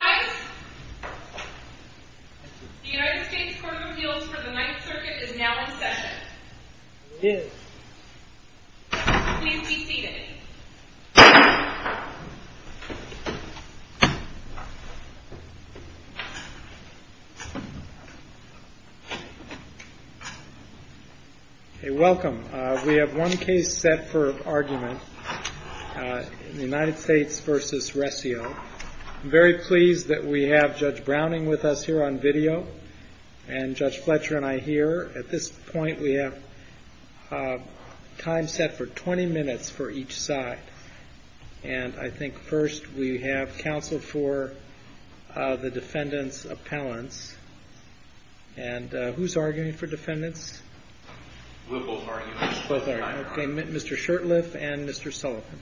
The United States Court of Appeals for the Ninth Circuit is now in session. Please be seated. Welcome. We have one case set for argument in the United States v. Recio. I'm very pleased that we have Judge Browning with us here on video, and Judge Fletcher and I here. At this point, we have time set for 20 minutes for each side. And I think first we have counsel for the defendant's appellants. And who's arguing for defendants? We'll both argue. Both are. Mr. Shurtleff and Mr. Sullivan.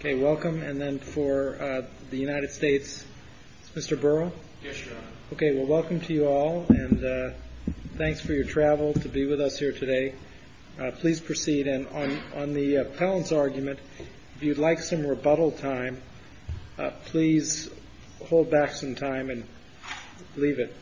OK, welcome. And then for the United States, Mr. Burrow. OK, well, welcome to you all. And thanks for your travel to be with us here today. Please proceed. And on the appellant's argument, if you'd like some rebuttal time, please hold back some time and leave it.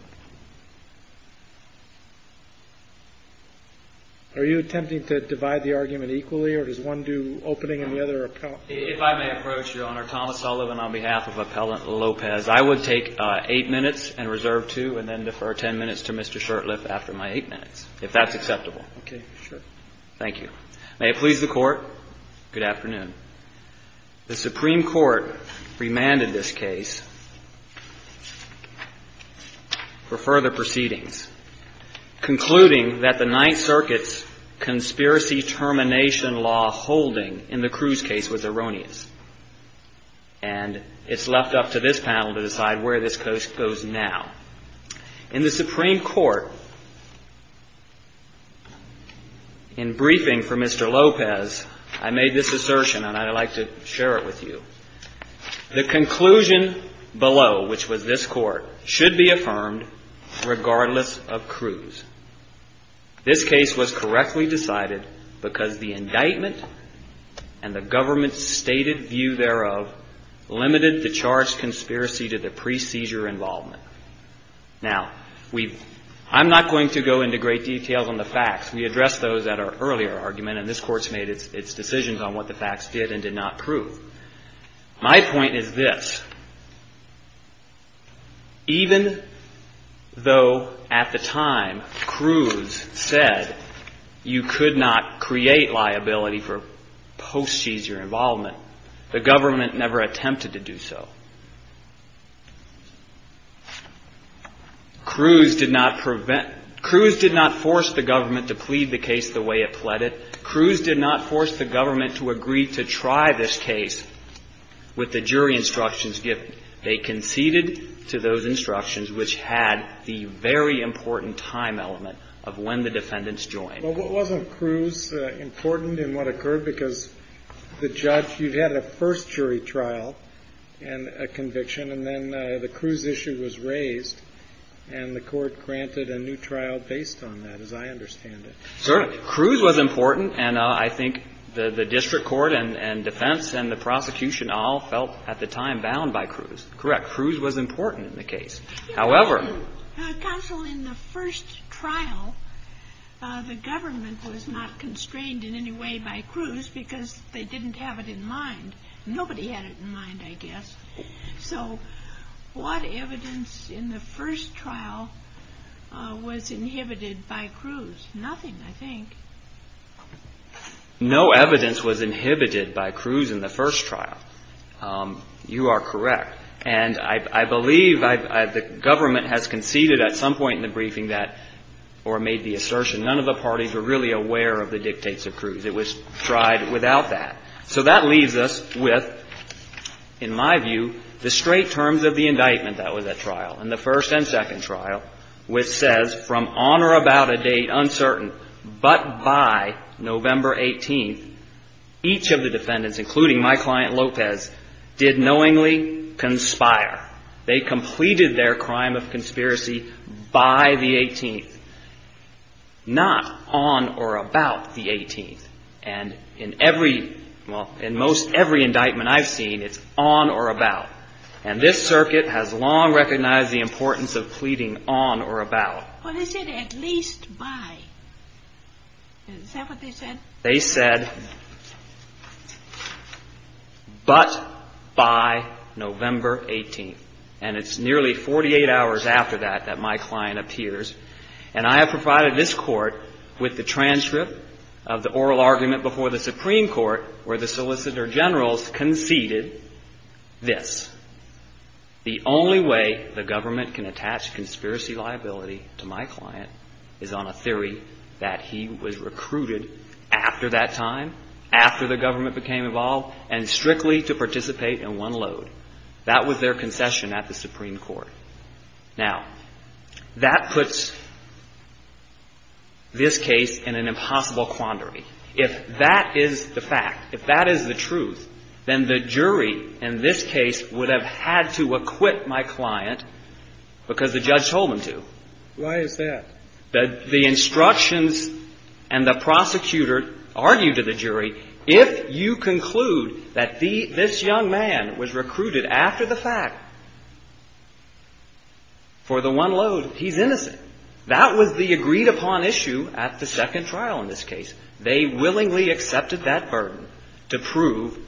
Are you attempting to divide the argument equally, or does one do opening and the other appellant? If I may approach, Your Honor. Thomas Sullivan on behalf of Appellant Lopez. I would take eight minutes and reserve two and then defer ten minutes to Mr. Shurtleff after my eight minutes, if that's acceptable. OK, sure. Thank you. May it please the Court. Good afternoon. The Supreme Court remanded this case for further proceedings, concluding that the Ninth Circuit's conspiracy termination law holding in the Cruz case was erroneous. And it's left up to this panel to decide where this case goes now. In the Supreme Court, in briefing for Mr. Lopez, I made this assertion, and I'd like to share it with you. The conclusion below, which was this Court, should be affirmed regardless of Cruz. This case was correctly decided because the indictment and the government's stated view thereof limited the charged conspiracy to the pre-seizure involvement. Now, I'm not going to go into great details on the facts. We addressed those at our earlier argument, and this Court's made its decisions on what the facts did and did not prove. My point is this. Even though at the time Cruz said you could not create liability for post-seizure involvement, the government never attempted to do so. Cruz did not force the government to plead the case the way it pled it. Cruz did not force the government to agree to try this case with the jury instructions given. They conceded to those instructions, which had the very important time element of when the defendants joined. Well, wasn't Cruz important in what occurred? Because the judge, you had a first jury trial and a conviction, and then the Cruz issue was raised, and the Court granted a new trial based on that, as I understand it. Certainly. Cruz was important, and I think the district court and defense and the prosecution all felt at the time bound by Cruz. Correct. Cruz was important in the case. Counsel, in the first trial, the government was not constrained in any way by Cruz because they didn't have it in mind. Nobody had it in mind, I guess. So what evidence in the first trial was inhibited by Cruz? Nothing, I think. No evidence was inhibited by Cruz in the first trial. You are correct. And I believe the government has conceded at some point in the briefing that, or made the assertion, none of the parties were really aware of the dictates of Cruz. It was tried without that. So that leaves us with, in my view, the straight terms of the indictment that was at trial, in the first and second trial, which says, from on or about a date uncertain, but by November 18th, each of the defendants, including my client Lopez, did knowingly conspire. They completed their crime of conspiracy by the 18th, not on or about the 18th. And in every, well, in most every indictment I've seen, it's on or about. And this circuit has long recognized the importance of pleading on or about. Well, they said at least by. Is that what they said? They said, but by November 18th. And it's nearly 48 hours after that that my client appears. And I have provided this Court with the transcript of the oral argument before the Supreme Court where the solicitor generals conceded this. The only way the government can attach conspiracy liability to my client is on a theory that he was recruited after that time, after the government became involved, and strictly to participate in one load. That was their concession at the Supreme Court. Now, that puts this case in an impossible quandary. If that is the fact, if that is the truth, then the jury in this case would have had to acquit my client because the judge told them to. Why is that? The instructions and the prosecutor argued to the jury, if you conclude that this young man was recruited after the fact for the one load, he's innocent. That was the agreed upon issue at the second trial in this case. They willingly accepted that burden to prove,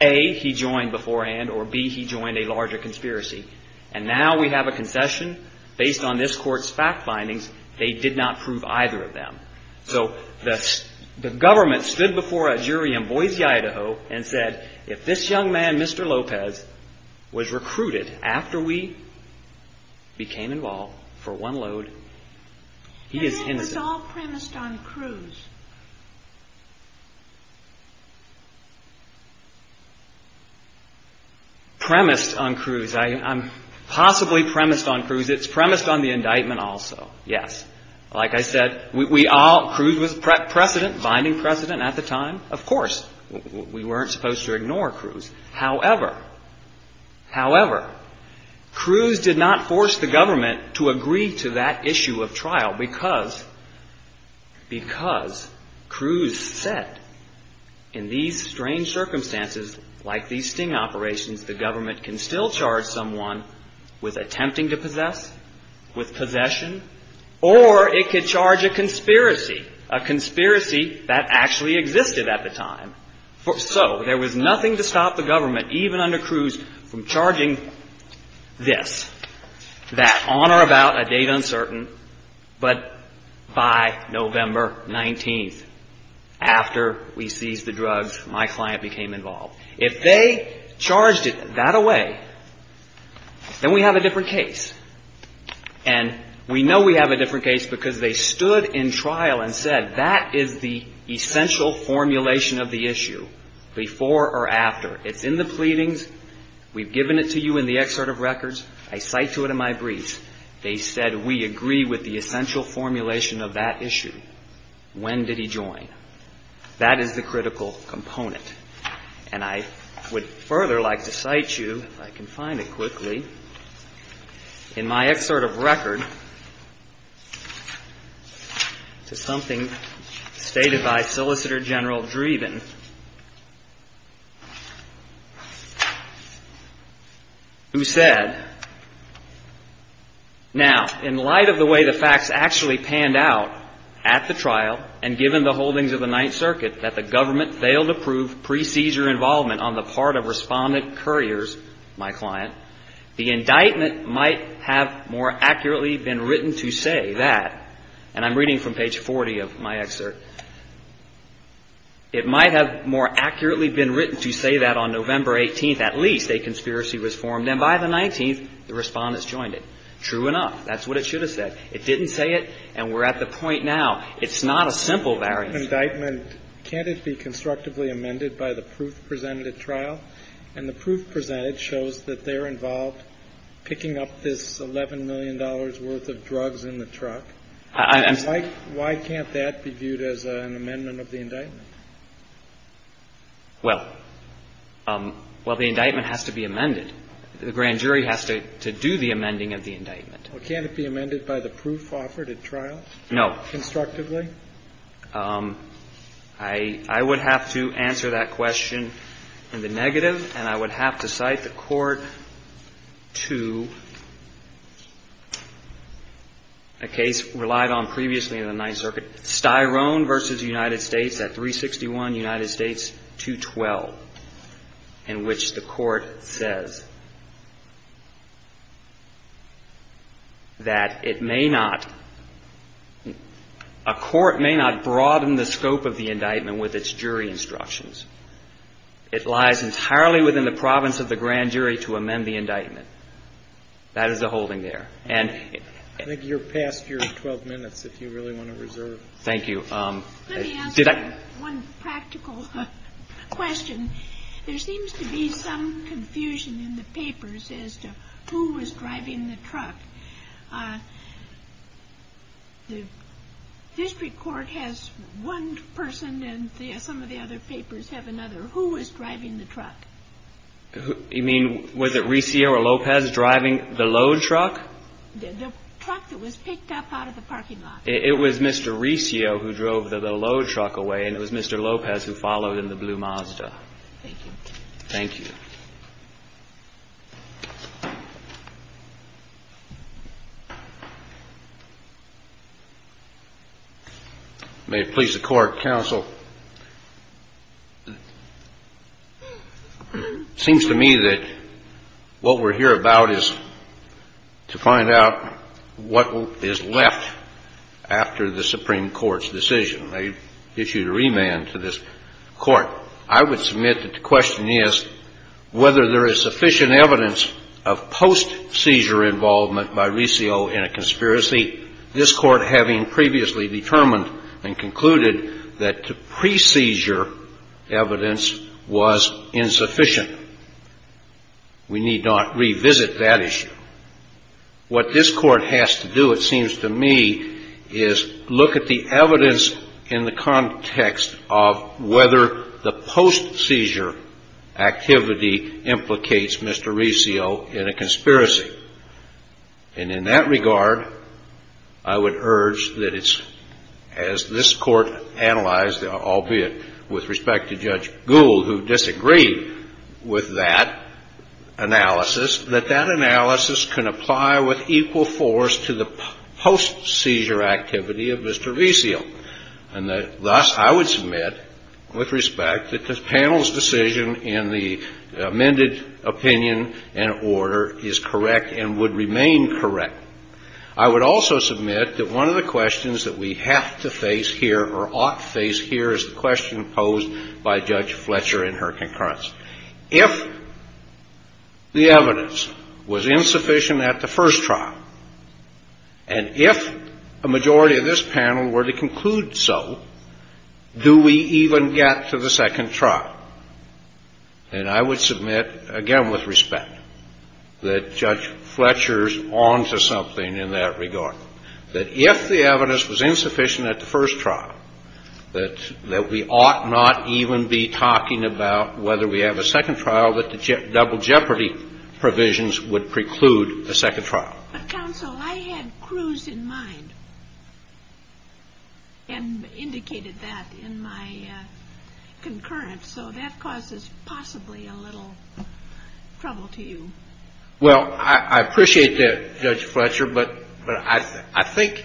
A, he joined beforehand, or, B, he joined a larger conspiracy. And now we have a concession based on this Court's fact findings. They did not prove either of them. So the government stood before a jury in Boise, Idaho, and said, if this young man, Mr. Lopez, was recruited after we became involved for one load, he is innocent. Was all premised on Cruz? Premised on Cruz. I'm possibly premised on Cruz. It's premised on the indictment also, yes. Like I said, we all, Cruz was precedent, binding precedent at the time. Of course, we weren't supposed to ignore Cruz. However, Cruz did not force the government to agree to that issue of trial because Cruz said, in these strange circumstances, like these sting operations, the government can still charge someone with attempting to possess, with possession, or it could charge a conspiracy, a conspiracy that actually existed at the time. So there was nothing to stop the government, even under Cruz, from charging this, that on or about a date uncertain, but by November 19th, after we seized the drugs, my client became involved. If they charged it that away, then we have a different case. And we know we have a different case because they stood in trial and said, that is the essential formulation of the issue, before or after. It's in the pleadings. We've given it to you in the excerpt of records. I cite to it in my briefs. They said, we agree with the essential formulation of that issue. When did he join? That is the critical component. And I would further like to cite you, if I can find it quickly, in my excerpt of record, to something stated by Solicitor General Dreeben, who said, Now, in light of the way the facts actually panned out at the trial, and given the holdings of the Ninth Circuit, that the government failed to prove pre-seizure involvement on the part of respondent couriers, my client, the indictment might have more accurately been written to say that, and I'm reading from page 40 of my excerpt, it might have more accurately been written to say that on November 18th, at least, a conspiracy was formed, and by the 19th, the respondents joined it. True enough. That's what it should have said. It didn't say it, and we're at the point now. It's not a simple variance. Can't it be constructively amended by the proof presented at trial? And the proof presented shows that they're involved picking up this $11 million worth of drugs in the truck. Why can't that be viewed as an amendment of the indictment? Well, the indictment has to be amended. The grand jury has to do the amending of the indictment. Well, can't it be amended by the proof offered at trial? No. Constructively? I would have to answer that question in the negative, and I would have to cite the court to a case relied on previously in the Ninth Circuit, Styrone v. United States at 361 United States 212, in which the court says that it may not, a court may not broaden the scope of the indictment with its jury instructions. It lies entirely within the province of the grand jury to amend the indictment. That is a holding there. I think you're past your 12 minutes, if you really want to reserve. Thank you. Let me answer one practical question. There seems to be some confusion in the papers as to who was driving the truck. The district court has one person, and some of the other papers have another. Who was driving the truck? You mean, was it Riccio or Lopez driving the load truck? The truck that was picked up out of the parking lot. It was Mr. Riccio who drove the load truck away, and it was Mr. Lopez who followed in the blue Mazda. Thank you. Thank you. May it please the Court. Counsel, it seems to me that what we're here about is to find out what is left after the Supreme Court's decision. They issued a remand to this Court. I would submit that the question is whether there is sufficient evidence of post-seizure involvement by Riccio in a conspiracy, this Court having previously determined and concluded that the pre-seizure evidence was insufficient. We need not revisit that issue. What this Court has to do, it seems to me, is look at the evidence in the context of whether the post-seizure activity implicates Mr. Riccio in a conspiracy. And in that regard, I would urge that it's, as this Court analyzed, albeit with respect to Judge Gould, who disagreed with that analysis, that that analysis can apply with equal force to the post-seizure activity of Mr. Riccio. And thus, I would submit, with respect, that the panel's decision in the amended opinion and order is correct and would remain correct. I would also submit that one of the questions that we have to face here or ought to face here is the question posed by Judge Fletcher in her concurrence. If the evidence was insufficient at the first trial, and if a majority of this panel were to conclude so, do we even get to the second trial? And I would submit, again, with respect, that Judge Fletcher's on to something in that regard. That if the evidence was insufficient at the first trial, that we ought not even be talking about whether we have a second trial, that the double jeopardy provisions would preclude a second trial. But, Counsel, I had Cruz in mind and indicated that in my concurrence, so that causes possibly a little trouble to you. Well, I appreciate that, Judge Fletcher, but I think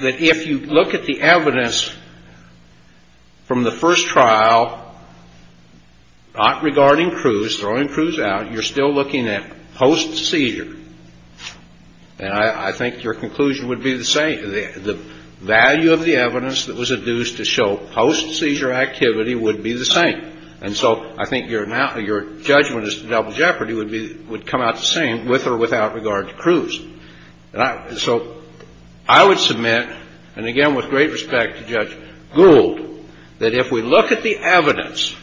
that if you look at the evidence from the first trial, not regarding Cruz, throwing Cruz out, you're still looking at post-seizure. And I think your conclusion would be the same. The value of the evidence that was adduced to show post-seizure activity would be the same. And so I think your judgment as to double jeopardy would come out the same with or without regard to Cruz. So I would submit, and again with great respect to Judge Gould, that if we look at the evidence,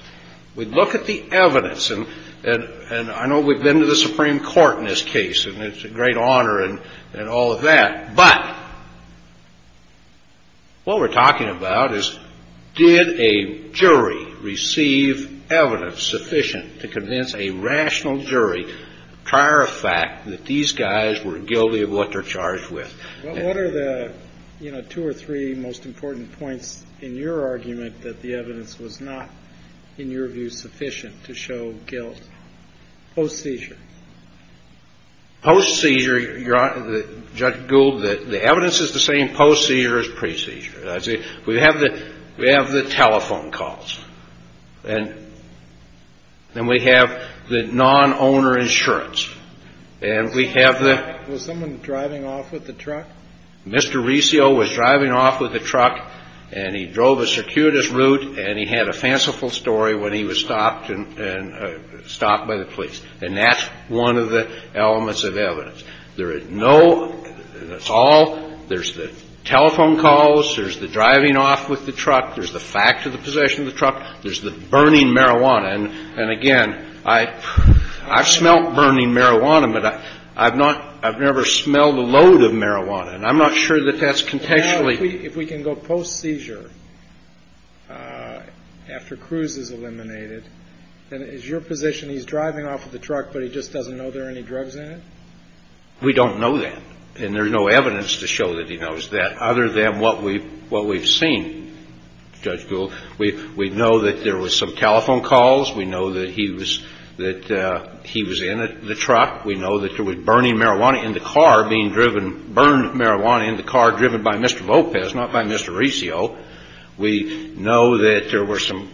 we look at the evidence, and I know we've been to the Supreme Court in this case, and it's a great honor and all of that. But what we're talking about is did a jury receive evidence sufficient to convince a rational jury prior to fact that these guys were guilty of what they're charged with? What are the, you know, two or three most important points in your argument that the evidence was not, in your view, sufficient to show guilt post-seizure? Post-seizure, Judge Gould, the evidence is the same post-seizure as pre-seizure. We have the telephone calls. And then we have the non-owner insurance. And we have the — Was someone driving off with the truck? Mr. Resio was driving off with the truck, and he drove a circuitous route, and he had a fanciful story when he was stopped by the police. And that's one of the elements of evidence. There is no — that's all. There's the telephone calls. There's the driving off with the truck. There's the fact of the possession of the truck. There's the burning marijuana. And, again, I've smelled burning marijuana, but I've not — I've never smelled a load of marijuana. And I'm not sure that that's contentionally — After Cruz is eliminated, then is your position he's driving off with the truck, but he just doesn't know there are any drugs in it? We don't know that. And there's no evidence to show that he knows that, other than what we've seen, Judge Gould. We know that there was some telephone calls. We know that he was in the truck. We know that there was burning marijuana in the car being driven — burned marijuana in the car driven by Mr. Lopez, not by Mr. Resio. We know that there were some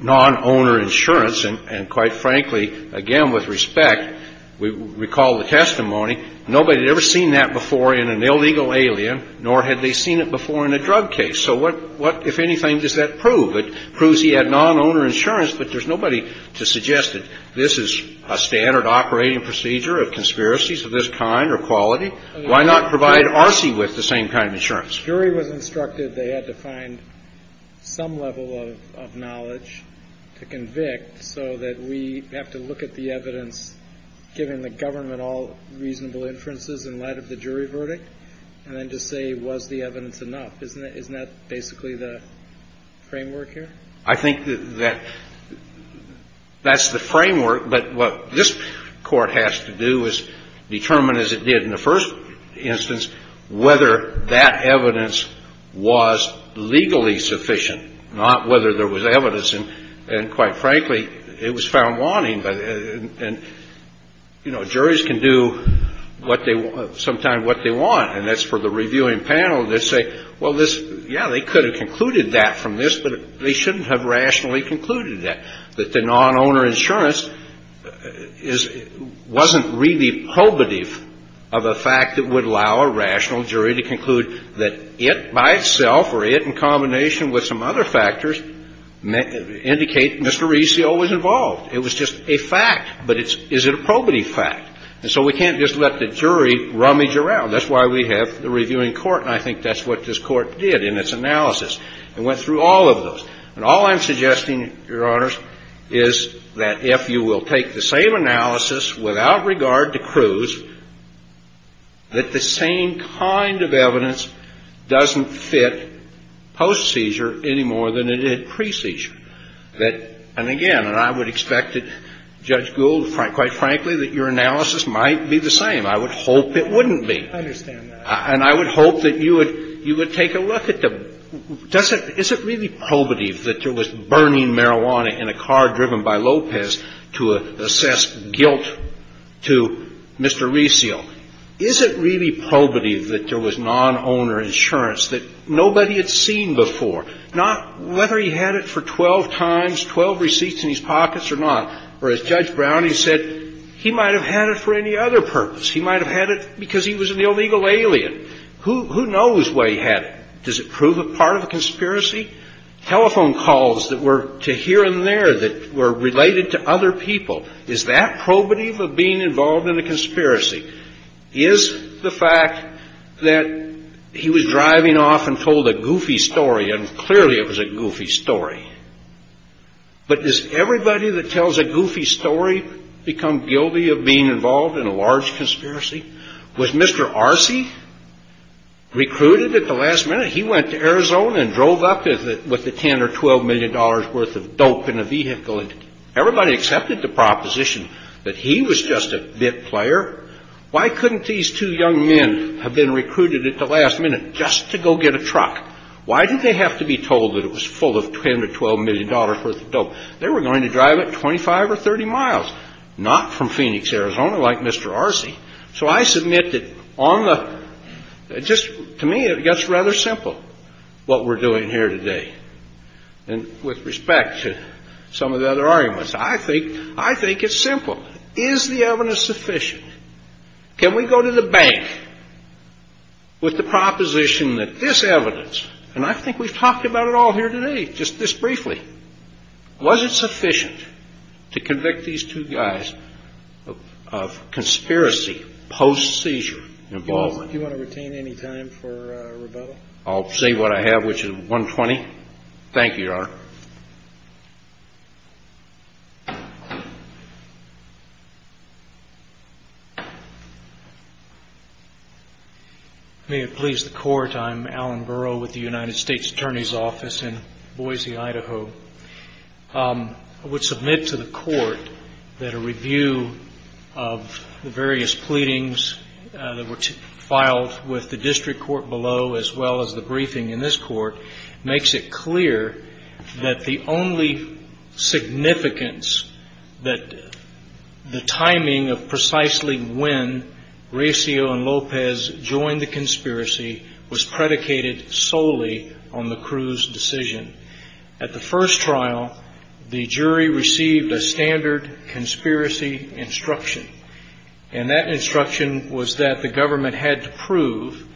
non-owner insurance. And, quite frankly, again, with respect, we recall the testimony, nobody had ever seen that before in an illegal alien, nor had they seen it before in a drug case. So what, if anything, does that prove? It proves he had non-owner insurance, but there's nobody to suggest that this is a standard operating procedure of conspiracies of this kind or quality. Why not provide Arce with the same kind of insurance? The jury was instructed they had to find some level of knowledge to convict so that we have to look at the evidence, given the government all reasonable inferences in light of the jury verdict, and then to say, was the evidence enough? Isn't that basically the framework here? I think that that's the framework, but what this Court has to do is determine, as it did in the first instance, whether that evidence was legally sufficient, not whether there was evidence. And, quite frankly, it was found wanting. And, you know, juries can do what they — sometimes what they want, and that's for the reviewing panel to say, well, this — this is a good case. This is a good case. And we should have concluded that from this, but they shouldn't have rationally concluded that, that the non-owner insurance is — wasn't really probative of a fact that would allow a rational jury to conclude that it by itself or it in combination with some other factors indicate Mr. Arce always involved. It was just a fact. But it's — is it a probative fact? And so we can't just let the jury rummage around. That's why we have the reviewing court, and I think that's what this Court did in its analysis. It went through all of those. And all I'm suggesting, Your Honors, is that if you will take the same analysis without regard to Cruz, that the same kind of evidence doesn't fit post-seizure any more than it did pre-seizure. And again, and I would expect that, Judge Gould, quite frankly, that your analysis might be the same. I would hope it wouldn't be. I understand that. And I would hope that you would — you would take a look at the — does it — is it really probative that there was burning marijuana in a car driven by Lopez to assess guilt to Mr. Reseal? Is it really probative that there was non-owner insurance that nobody had seen before? Not whether he had it for 12 times, 12 receipts in his pockets or not. Or as Judge Browning said, he might have had it for any other purpose. He might have had it because he was an illegal alien. Who knows why he had it? Does it prove a part of a conspiracy? Telephone calls that were to here and there that were related to other people, is that probative of being involved in a conspiracy? Is the fact that he was driving off and told a goofy story, and clearly it was a goofy story, but does everybody that tells a goofy story become guilty of being involved in a large conspiracy? Was Mr. Arce recruited at the last minute? He went to Arizona and drove up with the $10 or $12 million worth of dope in a vehicle. Everybody accepted the proposition that he was just a bit player. Why couldn't these two young men have been recruited at the last minute just to go get a truck? Why did they have to be told that it was full of $10 or $12 million worth of dope? They were going to drive it 25 or 30 miles. Not from Phoenix, Arizona like Mr. Arce. So I submit that to me it gets rather simple what we're doing here today. And with respect to some of the other arguments, I think it's simple. Is the evidence sufficient? Can we go to the bank with the proposition that this evidence, and I think we've talked about it all here today, just this briefly, was it sufficient to convict these two guys of conspiracy post-seizure involvement? Do you want to retain any time for rebuttal? I'll say what I have, which is 120. Thank you, Your Honor. May it please the Court, I'm Alan Burrow with the United States Attorney's Office in Boise, Idaho. I would submit to the Court that a review of the various pleadings that were filed with the district court below as well as the briefing in this Court makes it clear that the only significance, that the timing of precisely when Recio and Lopez joined the conspiracy was predicated solely on the Cruz decision. At the first trial, the jury received a standard conspiracy instruction. And that instruction was that the government had to prove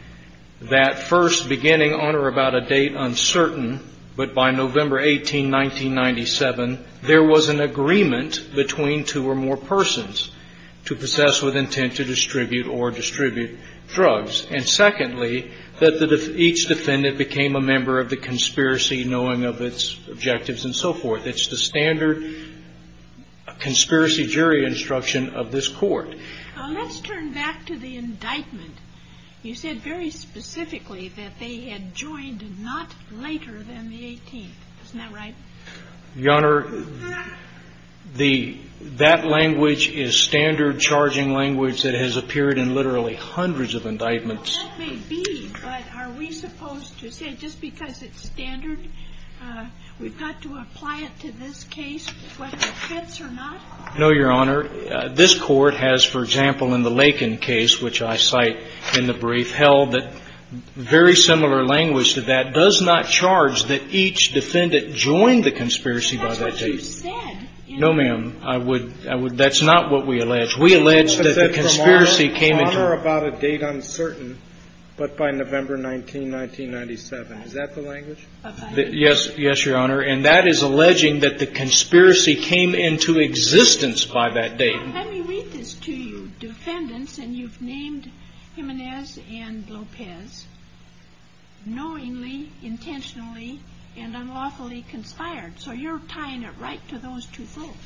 that first, beginning on or about a date uncertain, but by November 18, 1997, there was an agreement between two or more persons to possess with intent to distribute or distribute drugs. And secondly, that each defendant became a member of the conspiracy knowing of its objectives and so forth. It's the standard conspiracy jury instruction of this Court. Let's turn back to the indictment. You said very specifically that they had joined not later than the 18th. Isn't that right? Your Honor, that language is standard charging language that has appeared in literally hundreds of indictments. That may be, but are we supposed to say just because it's standard, we've got to apply it to this case whether it fits or not? No, Your Honor. This Court has, for example, in the Lakin case, which I cite in the brief, held that very similar language to that does not charge that each defendant joined the conspiracy by that date. That's what you said. No, ma'am. That's not what we allege. Your Honor, about a date uncertain, but by November 19, 1997, is that the language? Yes, Your Honor, and that is alleging that the conspiracy came into existence by that date. Let me read this to you. Defendants, and you've named Jimenez and Lopez, knowingly, intentionally, and unlawfully conspired. So you're tying it right to those two folks.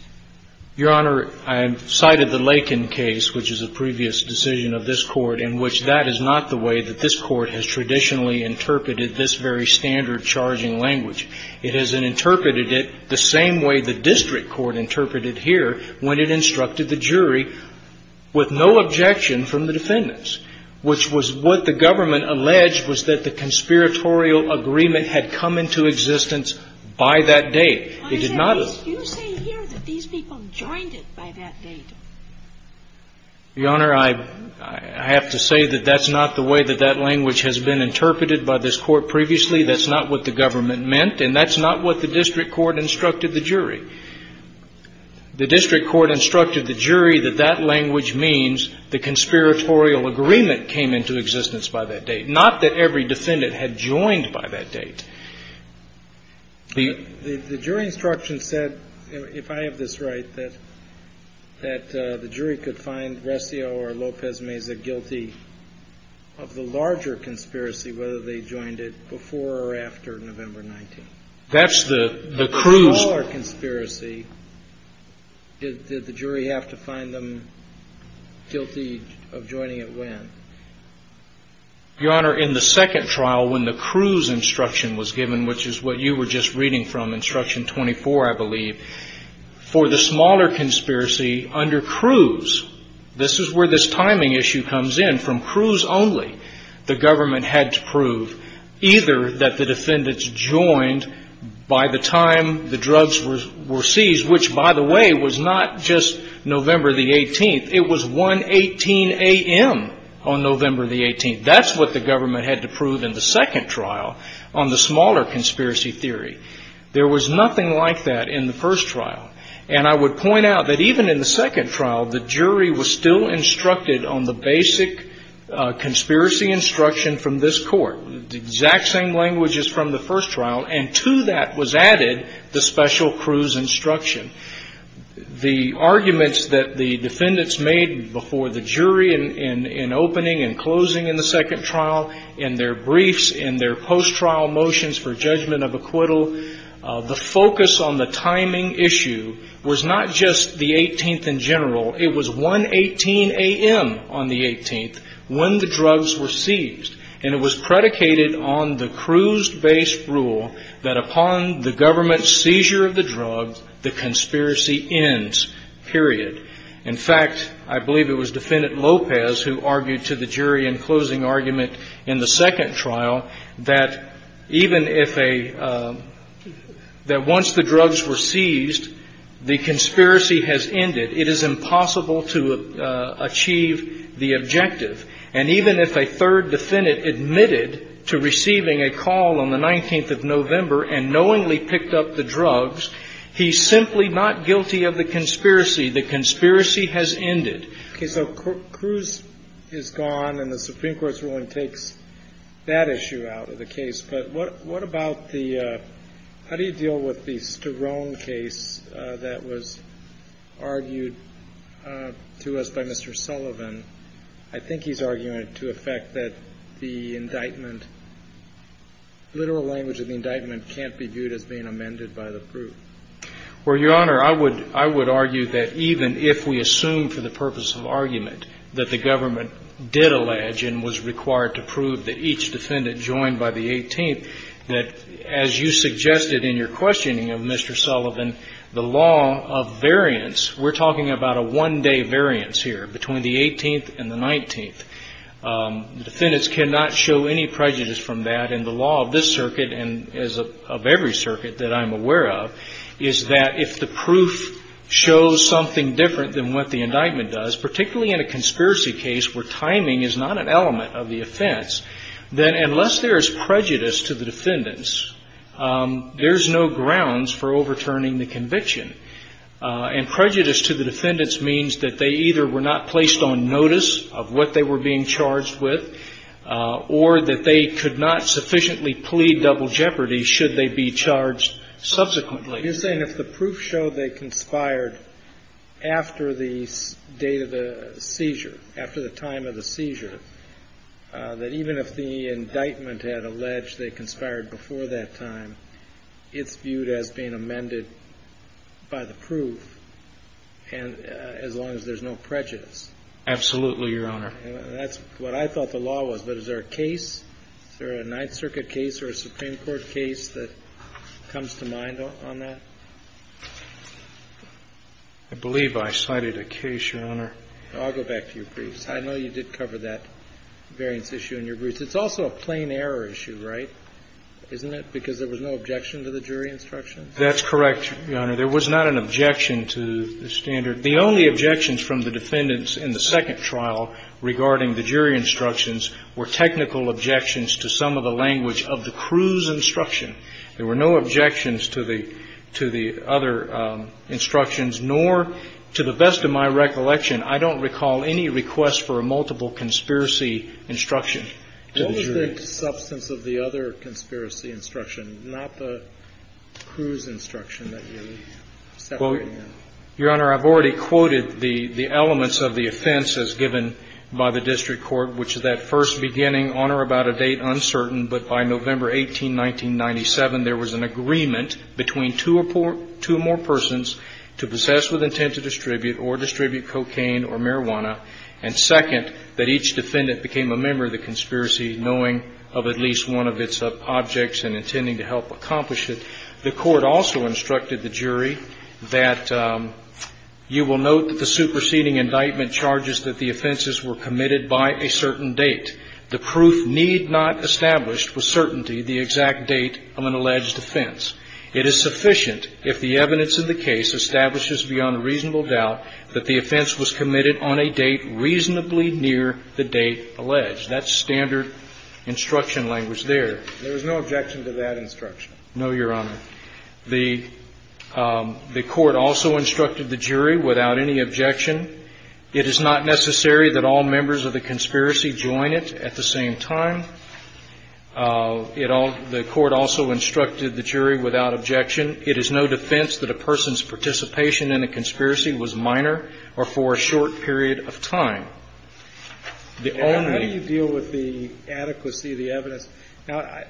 Your Honor, I cited the Lakin case, which is a previous decision of this Court, in which that is not the way that this Court has traditionally interpreted this very standard charging language. It has interpreted it the same way the district court interpreted here when it instructed the jury with no objection from the defendants, which was what the government alleged was that the conspiratorial agreement had come into existence by that date. You say here that these people joined it by that date. Your Honor, I have to say that that's not the way that that language has been interpreted by this Court previously. That's not what the government meant, and that's not what the district court instructed the jury. The district court instructed the jury that that language means the conspiratorial agreement came into existence by that date, not that every defendant had joined by that date. The jury instruction said, if I have this right, that the jury could find Rescio or Lopez-Meza guilty of the larger conspiracy, whether they joined it before or after November 19th. That's the cruise. The smaller conspiracy, did the jury have to find them guilty of joining it when? Your Honor, in the second trial, when the cruise instruction was given, which is what you were just reading from, instruction 24, I believe, for the smaller conspiracy under cruise, this is where this timing issue comes in. From cruise only, the government had to prove either that the defendants joined by the time the drugs were seized, which, by the way, was not just November the 18th. It was 1.18 a.m. on November the 18th. That's what the government had to prove in the second trial on the smaller conspiracy theory. There was nothing like that in the first trial, and I would point out that even in the second trial, the jury was still instructed on the basic conspiracy instruction from this Court, the exact same languages from the first trial, and to that was added the special cruise instruction. The arguments that the defendants made before the jury in opening and closing in the second trial, in their briefs, in their post-trial motions for judgment of acquittal, the focus on the timing issue was not just the 18th in general. It was 1.18 a.m. on the 18th when the drugs were seized, and it was predicated on the cruise-based rule that upon the government's seizure of the drugs, the conspiracy ends, period. In fact, I believe it was Defendant Lopez who argued to the jury in closing argument in the second trial that even if a – that once the drugs were seized, the conspiracy has ended. It is impossible to achieve the objective. And even if a third defendant admitted to receiving a call on the 19th of November and knowingly picked up the drugs, he's simply not guilty of the conspiracy. The conspiracy has ended. Okay. So cruise is gone, and the Supreme Court's ruling takes that issue out of the case. But what about the – how do you deal with the Sterone case that was argued to us by Mr. Sullivan? I think he's arguing to effect that the indictment – literal language of the indictment can't be viewed as being amended by the proof. Well, Your Honor, I would argue that even if we assume for the purpose of argument that the government did allege and was required to prove that each defendant joined by the 18th, that as you suggested in your questioning of Mr. Sullivan, the law of variance – we're talking about a one-day variance here between the 18th and the 19th. The defendants cannot show any prejudice from that, and the law of this circuit and of every circuit that I'm aware of is that if the proof shows something different than what the indictment does, particularly in a conspiracy case where timing is not an element of the offense, then unless there is prejudice to the defendants, there's no grounds for overturning the conviction. And prejudice to the defendants means that they either were not placed on notice of what they were being charged with or that they could not sufficiently plead double jeopardy should they be charged subsequently. You're saying if the proof showed they conspired after the date of the seizure, after the time of the seizure, that even if the indictment had alleged they conspired before that time, it's viewed as being amended by the proof as long as there's no prejudice? Absolutely, Your Honor. That's what I thought the law was, but is there a case? Is there a Ninth Circuit case or a Supreme Court case that comes to mind on that? I believe I cited a case, Your Honor. I'll go back to your briefs. I know you did cover that variance issue in your briefs. It's also a plain error issue, right? Isn't it? Because there was no objection to the jury instructions? That's correct, Your Honor. There was not an objection to the standard. The only objections from the defendants in the second trial regarding the jury instructions were technical objections to some of the language of the crew's instruction. There were no objections to the other instructions, nor, to the best of my recollection, I don't recall any request for a multiple conspiracy instruction. What was the substance of the other conspiracy instruction, not the crew's instruction that you're separating out? Your Honor, I've already quoted the elements of the offense as given by the district court, which is that first beginning on or about a date uncertain, but by November 18, 1997, there was an agreement between two more persons to possess with intent to distribute or distribute cocaine or marijuana, and second, that each defendant became a member of the conspiracy knowing of at least one of its objects and intending to help accomplish it. The court also instructed the jury that you will note that the superseding indictment charges that the offenses were committed by a certain date. The proof need not establish with certainty the exact date of an alleged offense. It is sufficient if the evidence in the case establishes beyond a reasonable doubt that the offense was committed on a date reasonably near the date alleged. That's standard instruction language there. There was no objection to that instruction? No, Your Honor. The court also instructed the jury without any objection. It is not necessary that all members of the conspiracy join it at the same time. It all – the court also instructed the jury without objection. It is no defense that a person's participation in a conspiracy was minor or for a short period of time. The only – How do you deal with the adequacy of the evidence? Now,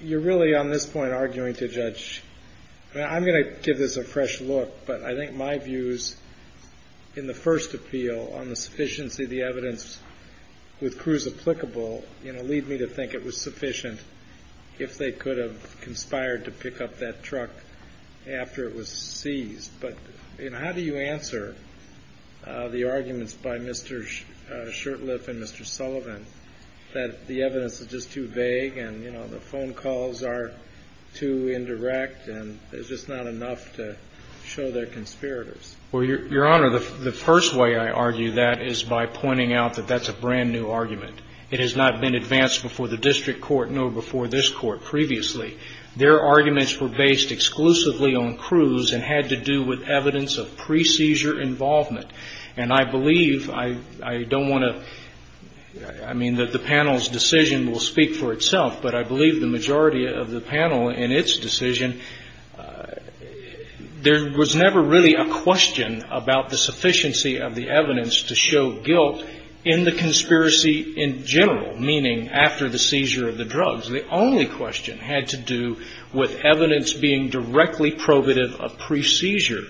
you're really on this point arguing to a judge. I'm going to give this a fresh look, but I think my views in the first appeal on the sufficiency of the evidence with Cruz applicable, you know, lead me to think it was sufficient if they could have conspired to pick up that truck after it was seized. But, you know, how do you answer the arguments by Mr. Shurtleff and Mr. Sullivan that the evidence is just too vague and, you know, the phone calls are too indirect and there's just not enough to show they're conspirators? Well, Your Honor, the first way I argue that is by pointing out that that's a brand new argument. It has not been advanced before the district court nor before this court previously. Their arguments were based exclusively on Cruz and had to do with evidence of pre-seizure involvement. And I believe – I don't want to – I mean that the panel's decision will speak for itself, but I believe the majority of the panel in its decision – there was never really a question about the sufficiency of the evidence to show guilt in the conspiracy in general, meaning after the seizure of the drugs. The only question had to do with evidence being directly probative of pre-seizure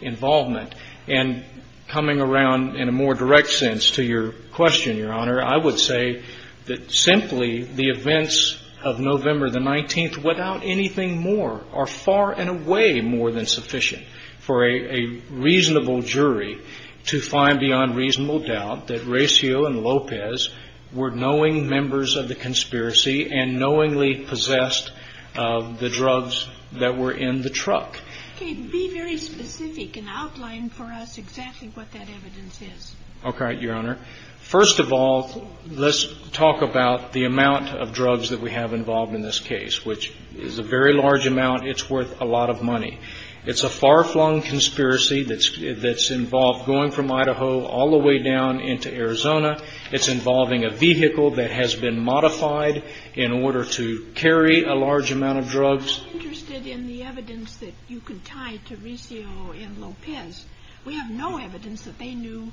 involvement. And coming around in a more direct sense to your question, Your Honor, I would say that simply the events of November the 19th without anything more are far and away more than sufficient for a reasonable jury to find beyond reasonable doubt that Cruz, Gracio and Lopez were knowing members of the conspiracy and knowingly possessed the drugs that were in the truck. Okay. Be very specific and outline for us exactly what that evidence is. Okay, Your Honor. First of all, let's talk about the amount of drugs that we have involved in this case, which is a very large amount. It's worth a lot of money. It's a far-flung conspiracy that's involved going from Idaho all the way down into Arizona. It's involving a vehicle that has been modified in order to carry a large amount of drugs. I'm interested in the evidence that you can tie to Gracio and Lopez. We have no evidence that they knew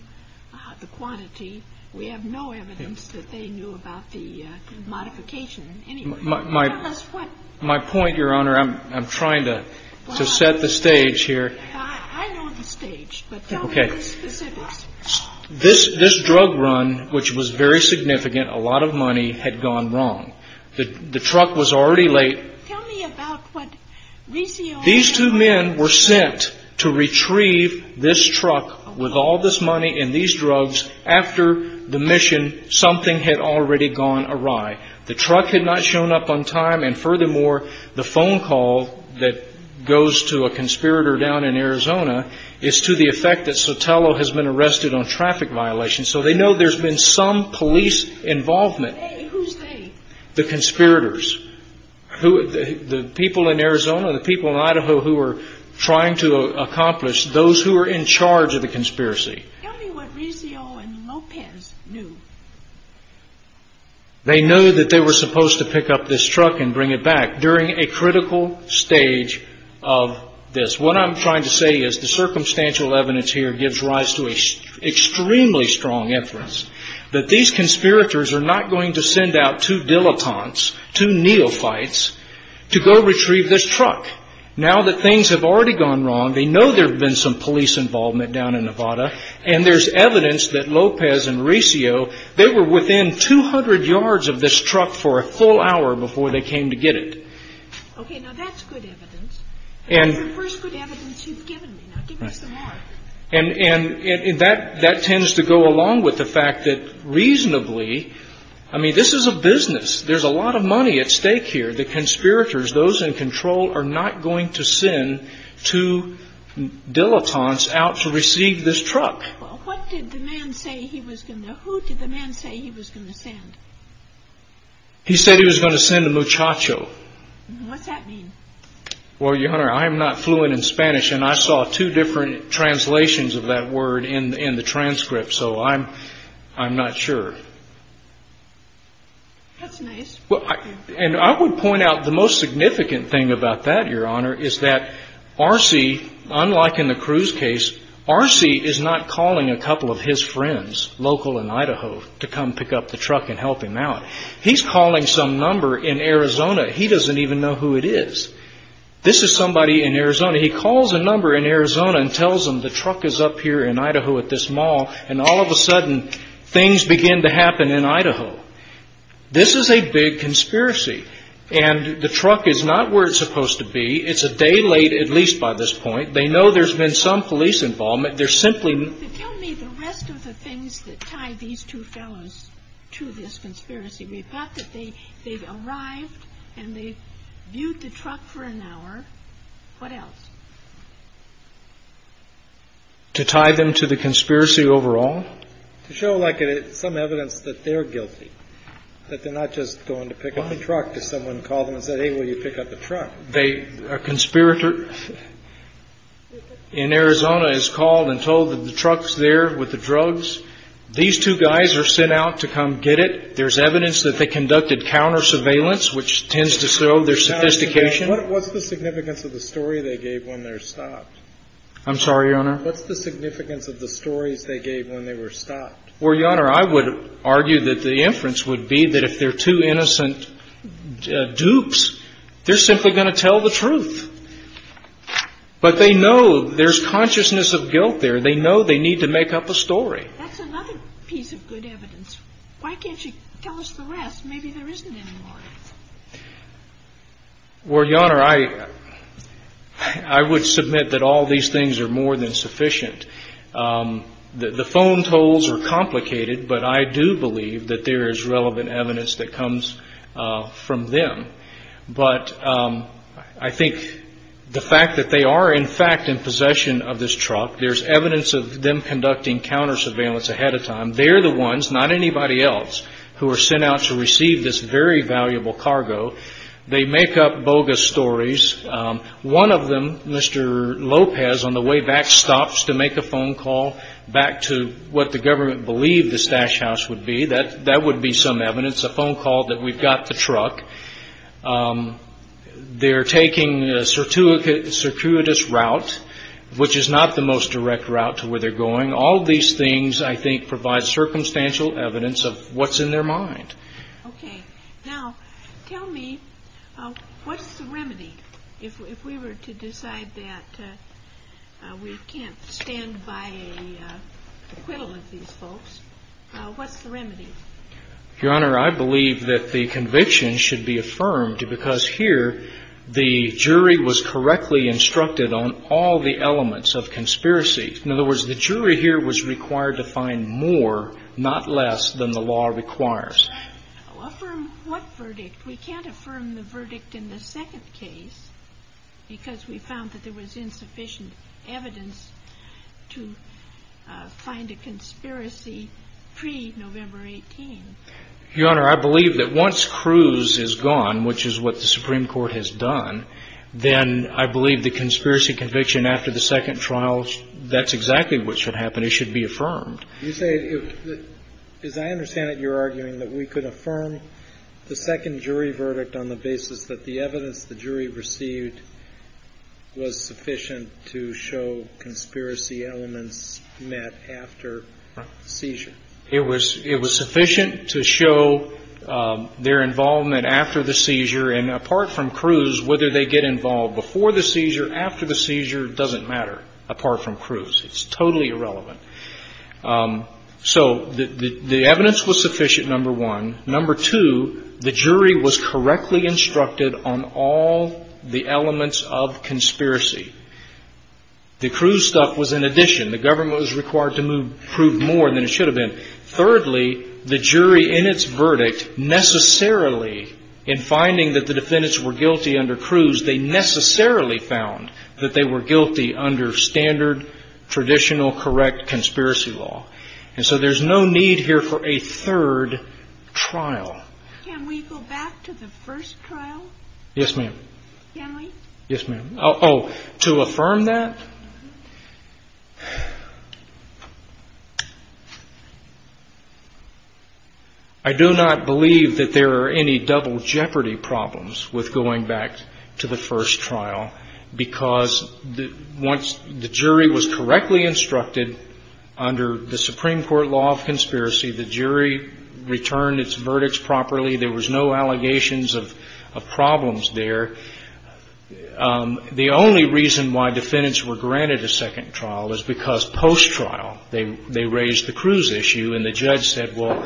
the quantity. We have no evidence that they knew about the modification. My point, Your Honor, I'm trying to set the stage here. I know the stage, but tell me the specifics. This drug run, which was very significant, a lot of money had gone wrong. The truck was already late. Tell me about what Gracio and Lopez did. These two men were sent to retrieve this truck with all this money and these drugs. After the mission, something had already gone awry. The truck had not shown up on time, and furthermore, the phone call that goes to a So they know there's been some police involvement. Who's they? The conspirators, the people in Arizona, the people in Idaho who were trying to accomplish those who were in charge of the conspiracy. Tell me what Gracio and Lopez knew. They knew that they were supposed to pick up this truck and bring it back during a critical stage of this. What I'm trying to say is the circumstantial evidence here gives rise to an extremely strong inference that these conspirators are not going to send out two dilettantes, two neophytes, to go retrieve this truck. Now that things have already gone wrong, they know there's been some police involvement down in Nevada, and there's evidence that Lopez and Gracio, they were within 200 yards of this truck for a full hour before they came to get it. Okay, now that's good evidence. That's the first good evidence you've given me. Now give me some more. And that tends to go along with the fact that reasonably, I mean, this is a business. There's a lot of money at stake here. The conspirators, those in control, are not going to send two dilettantes out to receive this truck. Well, what did the man say he was going to? Who did the man say he was going to send? He said he was going to send a muchacho. What's that mean? Well, Your Honor, I am not fluent in Spanish, and I saw two different translations of that word in the transcript, so I'm not sure. That's nice. And I would point out the most significant thing about that, Your Honor, is that Arce, unlike in the Cruz case, Arce is not calling a couple of his friends local in Idaho to come pick up the truck and help him out. He's calling some number in Arizona. He doesn't even know who it is. This is somebody in Arizona. He calls a number in Arizona and tells them the truck is up here in Idaho at this mall, and all of a sudden, things begin to happen in Idaho. This is a big conspiracy, and the truck is not where it's supposed to be. It's a day late, at least by this point. They know there's been some police involvement. They're simply... But tell me the rest of the things that tie these two fellows to this conspiracy. The fact that they've arrived and they've viewed the truck for an hour, what else? To tie them to the conspiracy overall? To show some evidence that they're guilty, that they're not just going to pick up the truck. Someone called them and said, hey, will you pick up the truck? A conspirator in Arizona is called and told that the truck's there with the drugs. These two guys are sent out to come get it. There's evidence that they conducted counter-surveillance, which tends to show their sophistication. What's the significance of the story they gave when they were stopped? I'm sorry, Your Honor? What's the significance of the stories they gave when they were stopped? Well, Your Honor, I would argue that the inference would be that if they're two innocent dupes, they're simply going to tell the truth. But they know there's consciousness of guilt there. They know they need to make up a story. That's another piece of good evidence. Why can't you tell us the rest? Maybe there isn't any more. Well, Your Honor, I would submit that all these things are more than sufficient. The phone tolls are complicated, but I do believe that there is relevant evidence that comes from them. But I think the fact that they are, in fact, in possession of this truck, there's evidence of them conducting counter-surveillance ahead of time. They're the ones, not anybody else, who are sent out to receive this very valuable cargo. They make up bogus stories. One of them, Mr. Lopez, on the way back, stops to make a phone call back to what the government believed the stash house would be. That would be some evidence, a phone call that we've got the truck. They're taking a circuitous route, which is not the most direct route to where they're going. All of these things, I think, provide circumstantial evidence of what's in their mind. Okay. Now, tell me, what's the remedy? If we were to decide that we can't stand by an acquittal of these folks, what's the remedy? Your Honor, I believe that the conviction should be affirmed, because here the jury was correctly instructed on all the elements of conspiracy. In other words, the jury here was required to find more, not less, than the law requires. Affirm what verdict? We can't affirm the verdict in the second case, because we found that there was insufficient evidence to find a conspiracy pre-November 18. Your Honor, I believe that once Cruz is gone, which is what the Supreme Court has done, then I believe the conspiracy conviction after the second trial, that's exactly what should happen. It should be affirmed. You say, as I understand it, you're arguing that we could affirm the second jury verdict on the basis that the evidence the jury received was sufficient to show conspiracy elements met after the seizure. It was sufficient to show their involvement after the seizure. And apart from Cruz, whether they get involved before the seizure, after the seizure, doesn't matter, apart from Cruz. It's totally irrelevant. So the evidence was sufficient, number one. Number two, the jury was correctly instructed on all the elements of conspiracy. The Cruz stuff was in addition. The government was required to prove more than it should have been. Thirdly, the jury in its verdict necessarily, in finding that the defendants were guilty under Cruz, they necessarily found that they were guilty under standard, traditional, correct conspiracy law. And so there's no need here for a third trial. Can we go back to the first trial? Yes, ma'am. Can we? Yes, ma'am. Oh, to affirm that? I do not believe that there are any double jeopardy problems with going back to the first trial, because once the jury was correctly instructed under the Supreme Court law of conspiracy, there was no allegations of problems there. The only reason why defendants were granted a second trial is because post-trial they raised the Cruz issue, and the judge said, well,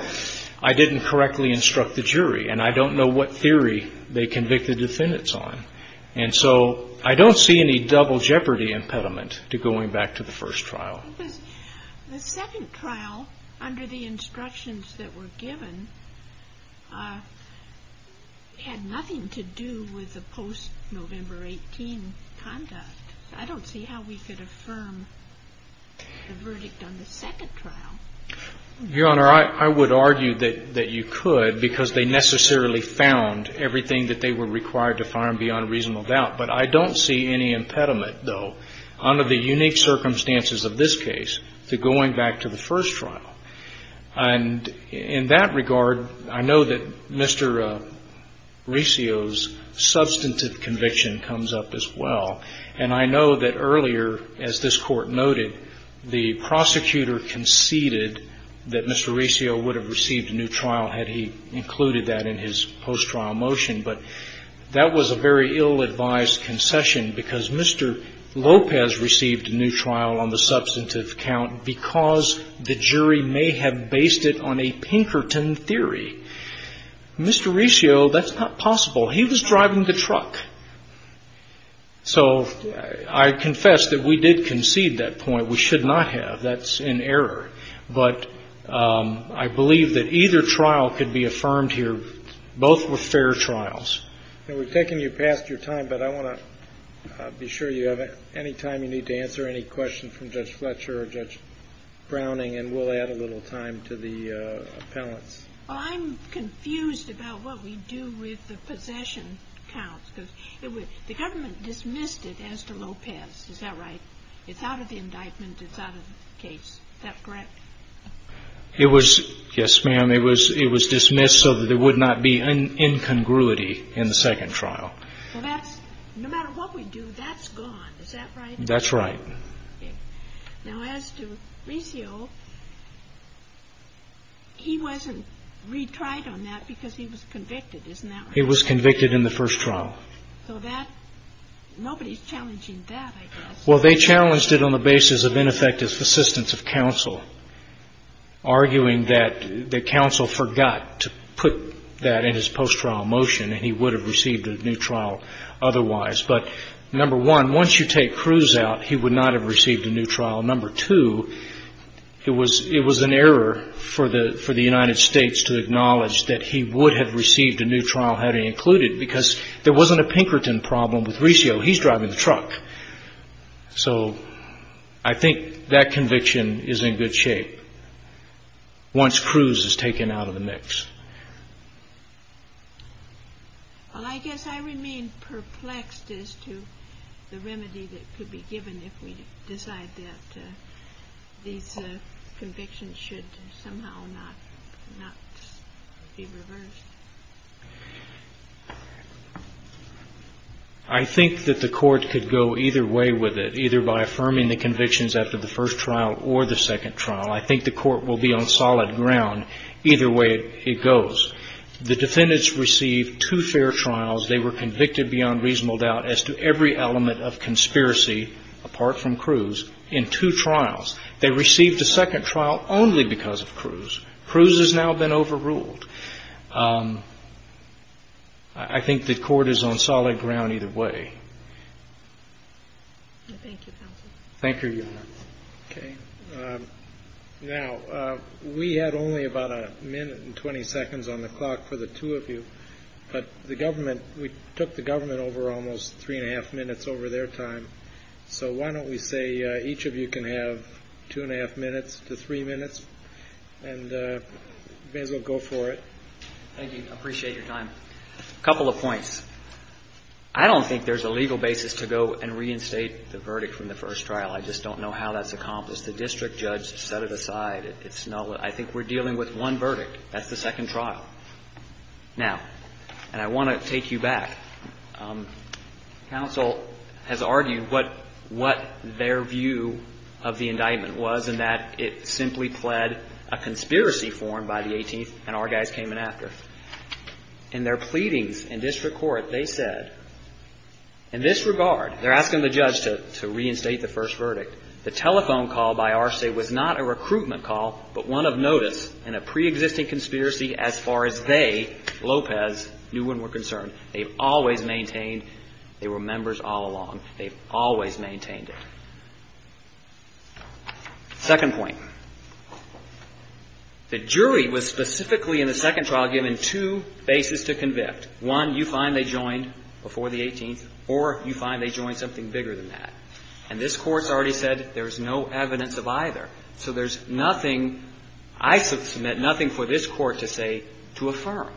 I didn't correctly instruct the jury, and I don't know what theory they convicted defendants on. And so I don't see any double jeopardy impediment to going back to the first trial. The second trial, under the instructions that were given, had nothing to do with the post-November 18 conduct. I don't see how we could affirm the verdict on the second trial. Your Honor, I would argue that you could, because they necessarily found everything that they were required to find beyond reasonable doubt. But I don't see any impediment, though. Under the unique circumstances of this case, to going back to the first trial. And in that regard, I know that Mr. Resio's substantive conviction comes up as well. And I know that earlier, as this Court noted, the prosecutor conceded that Mr. Resio would have received a new trial had he included that in his post-trial motion. But that was a very ill-advised concession, because Mr. Lopez received a new trial on the substantive count because the jury may have based it on a Pinkerton theory. Mr. Resio, that's not possible. He was driving the truck. So I confess that we did concede that point. We should not have. That's an error. But I believe that either trial could be affirmed here, both were fair trials. We're taking you past your time, but I want to be sure you have any time you need to answer any questions from Judge Fletcher or Judge Browning, and we'll add a little time to the appellants. I'm confused about what we do with the possession counts. The government dismissed it as to Lopez. Is that right? It's out of the indictment. It's out of the case. Is that correct? Yes, ma'am. It was dismissed so that there would not be an incongruity in the second trial. No matter what we do, that's gone. Is that right? That's right. Now, as to Resio, he wasn't retried on that because he was convicted. Isn't that right? He was convicted in the first trial. Nobody's challenging that, I guess. Well, they challenged it on the basis of ineffective assistance of counsel, arguing that counsel forgot to put that in his post-trial motion and he would have received a new trial otherwise. But, number one, once you take Cruz out, he would not have received a new trial. Number two, it was an error for the United States to acknowledge that he would have received a new trial had he included it So I think that conviction is in good shape once Cruz is taken out of the mix. Well, I guess I remain perplexed as to the remedy that could be given if we decide that these convictions should somehow not be reversed. I think that the court could go either way with it, either by affirming the convictions after the first trial or the second trial. I think the court will be on solid ground either way it goes. The defendants received two fair trials. They were convicted beyond reasonable doubt as to every element of conspiracy apart from Cruz in two trials. They received a second trial only because of Cruz. Cruz has now been overruled. I think the court is on solid ground either way. Thank you, counsel. Thank you, Your Honor. Now, we had only about a minute and 20 seconds on the clock for the two of you. But the government, we took the government over almost three and a half minutes over their time. So why don't we say each of you can have two and a half minutes to three minutes. And you may as well go for it. Thank you. I appreciate your time. A couple of points. I don't think there's a legal basis to go and reinstate the verdict from the first trial. I just don't know how that's accomplished. The district judge set it aside. It's not what I think we're dealing with one verdict. That's the second trial. Now, and I want to take you back. Counsel has argued what their view of the indictment was, and that it simply pled a conspiracy form by the 18th and our guys came in after. In their pleadings in district court, they said, in this regard, they're asking the judge to reinstate the first verdict. The telephone call by Arce was not a recruitment call, but one of notice in a preexisting conspiracy as far as they, Lopez, knew and were concerned. They've always maintained they were members all along. They've always maintained it. Second point. The jury was specifically in the second trial given two bases to convict. One, you find they joined before the 18th, or you find they joined something bigger than that. And this Court's already said there's no evidence of either. So there's nothing, I submit, nothing for this Court to say to affirm.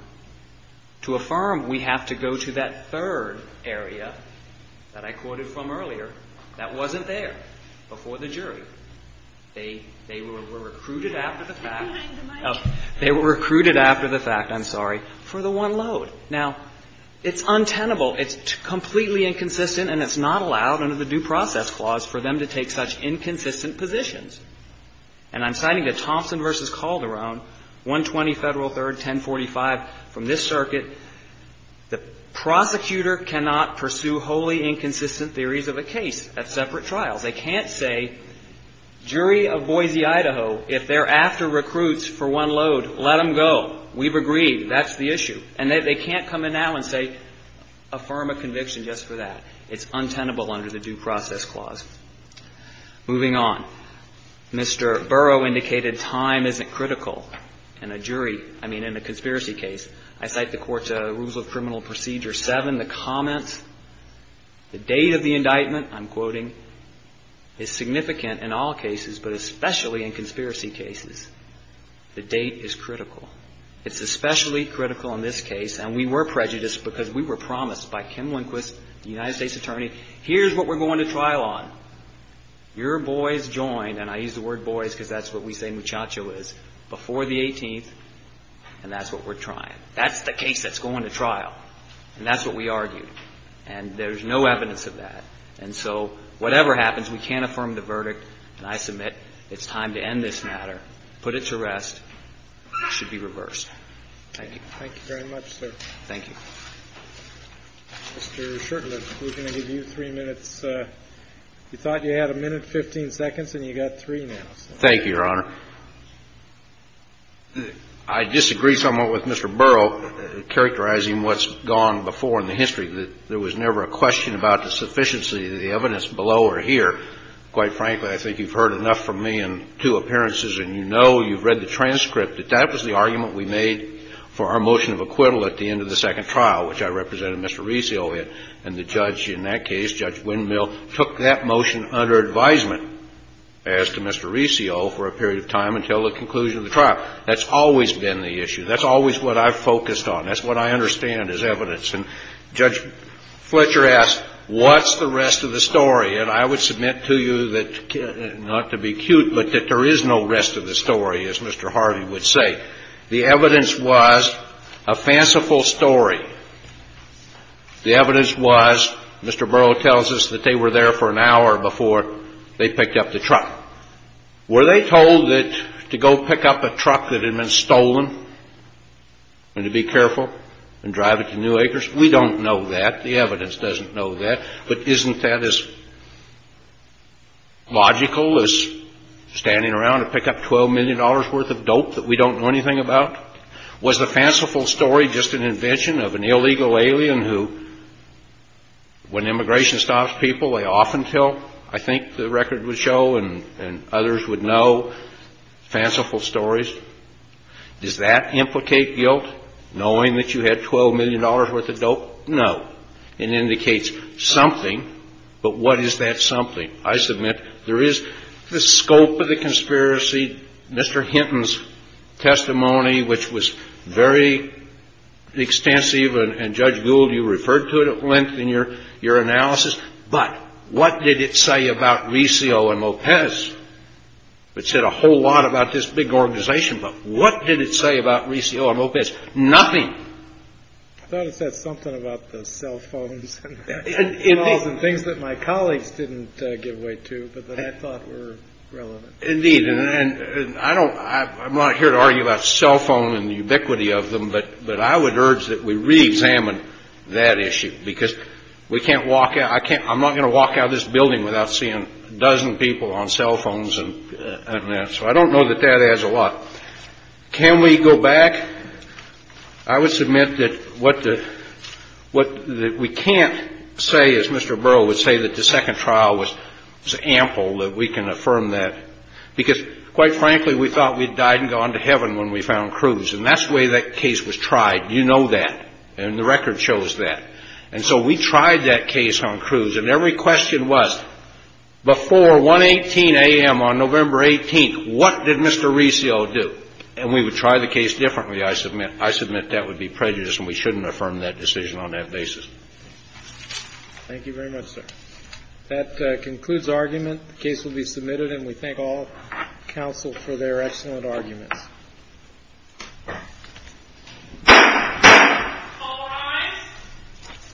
To affirm, we have to go to that third area that I quoted from earlier that wasn't there before the jury. They were recruited after the fact. They were recruited after the fact. I'm sorry. For the one load. Now, it's untenable. It's completely inconsistent, and it's not allowed under the Due Process Clause for them to take such inconsistent positions. And I'm citing the Thompson v. Calderon, 120 Federal 3rd, 1045, from this circuit. The prosecutor cannot pursue wholly inconsistent theories of a case at separate trials. They can't say, jury of Boise, Idaho, if they're after recruits for one load, let them go. We've agreed. That's the issue. And they can't come in now and say, affirm a conviction just for that. It's untenable under the Due Process Clause. Moving on. Mr. Burrow indicated time isn't critical in a jury, I mean, in a conspiracy case. I cite the Court's Rules of Criminal Procedure 7. The comments, the date of the indictment, I'm quoting, is significant in all cases, but especially in conspiracy cases. The date is critical. It's especially critical in this case, and we were prejudiced because we were promised by Kim Lindquist, the United States Attorney, here's what we're going to trial on. Your boys joined, and I use the word boys because that's what we say muchacho is, before the 18th, and that's what we're trying. That's the case that's going to trial, and that's what we argued. And there's no evidence of that. And so whatever happens, we can't affirm the verdict, and I submit it's time to end this matter, put it to rest. It should be reversed. Thank you. Thank you very much, sir. Thank you. Mr. Shurtleff, we're going to give you three minutes. You thought you had a minute, 15 seconds, and you've got three now. Thank you, Your Honor. I disagree somewhat with Mr. Burrow characterizing what's gone before in the history, that there was never a question about the sufficiency of the evidence below or here. Quite frankly, I think you've heard enough from me in two appearances, and you know, you've read the transcript, that that was the argument we made for our motion of acquittal at the end of the second trial, which I represented Mr. Resio in. And the judge in that case, Judge Windmill, took that motion under advisement as to Mr. Resio for a period of time until the conclusion of the trial. That's always been the issue. That's always what I've focused on. That's what I understand as evidence. And Judge Fletcher asked, what's the rest of the story? And I would submit to you that, not to be cute, but that there is no rest of the story, as Mr. Hardy would say. The evidence was a fanciful story. The evidence was, Mr. Burrow tells us that they were there for an hour before they picked up the truck. Were they told to go pick up a truck that had been stolen and to be careful and drive it to New Acres? We don't know that. The evidence doesn't know that. But isn't that as logical as standing around to pick up $12 million worth of dope that we don't know anything about? Was the fanciful story just an invention of an illegal alien who, when immigration stops people, they often tell, I think the record would show and others would know, fanciful stories? Does that implicate guilt, knowing that you had $12 million worth of dope? No. It indicates something. But what is that something? I submit there is the scope of the conspiracy. Mr. Hinton's testimony, which was very extensive, and Judge Gould, you referred to it at length in your analysis. But what did it say about Riccio and Lopez? It said a whole lot about this big organization, but what did it say about Riccio and Lopez? Nothing. I thought it said something about the cell phones and the emails and things that my colleagues didn't give way to, but that I thought were relevant. Indeed. And I'm not here to argue about cell phone and the ubiquity of them, but I would urge that we reexamine that issue because we can't walk out. I'm not going to walk out of this building without seeing a dozen people on cell phones and that. So I don't know that that adds a lot. Can we go back? I would submit that what we can't say, as Mr. Burrow would say, that the second trial was ample, that we can affirm that, because, quite frankly, we thought we'd died and gone to heaven when we found Cruz. And that's the way that case was tried. You know that. And the record shows that. And so we tried that case on Cruz, and every question was, before 118 a.m. on November 18th, what did Mr. Riccio do? And we would try the case differently, I submit. I submit that would be prejudice, and we shouldn't affirm that decision on that basis. Thank you very much, sir. That concludes argument. The case will be submitted, and we thank all counsel for their excellent arguments. All rise.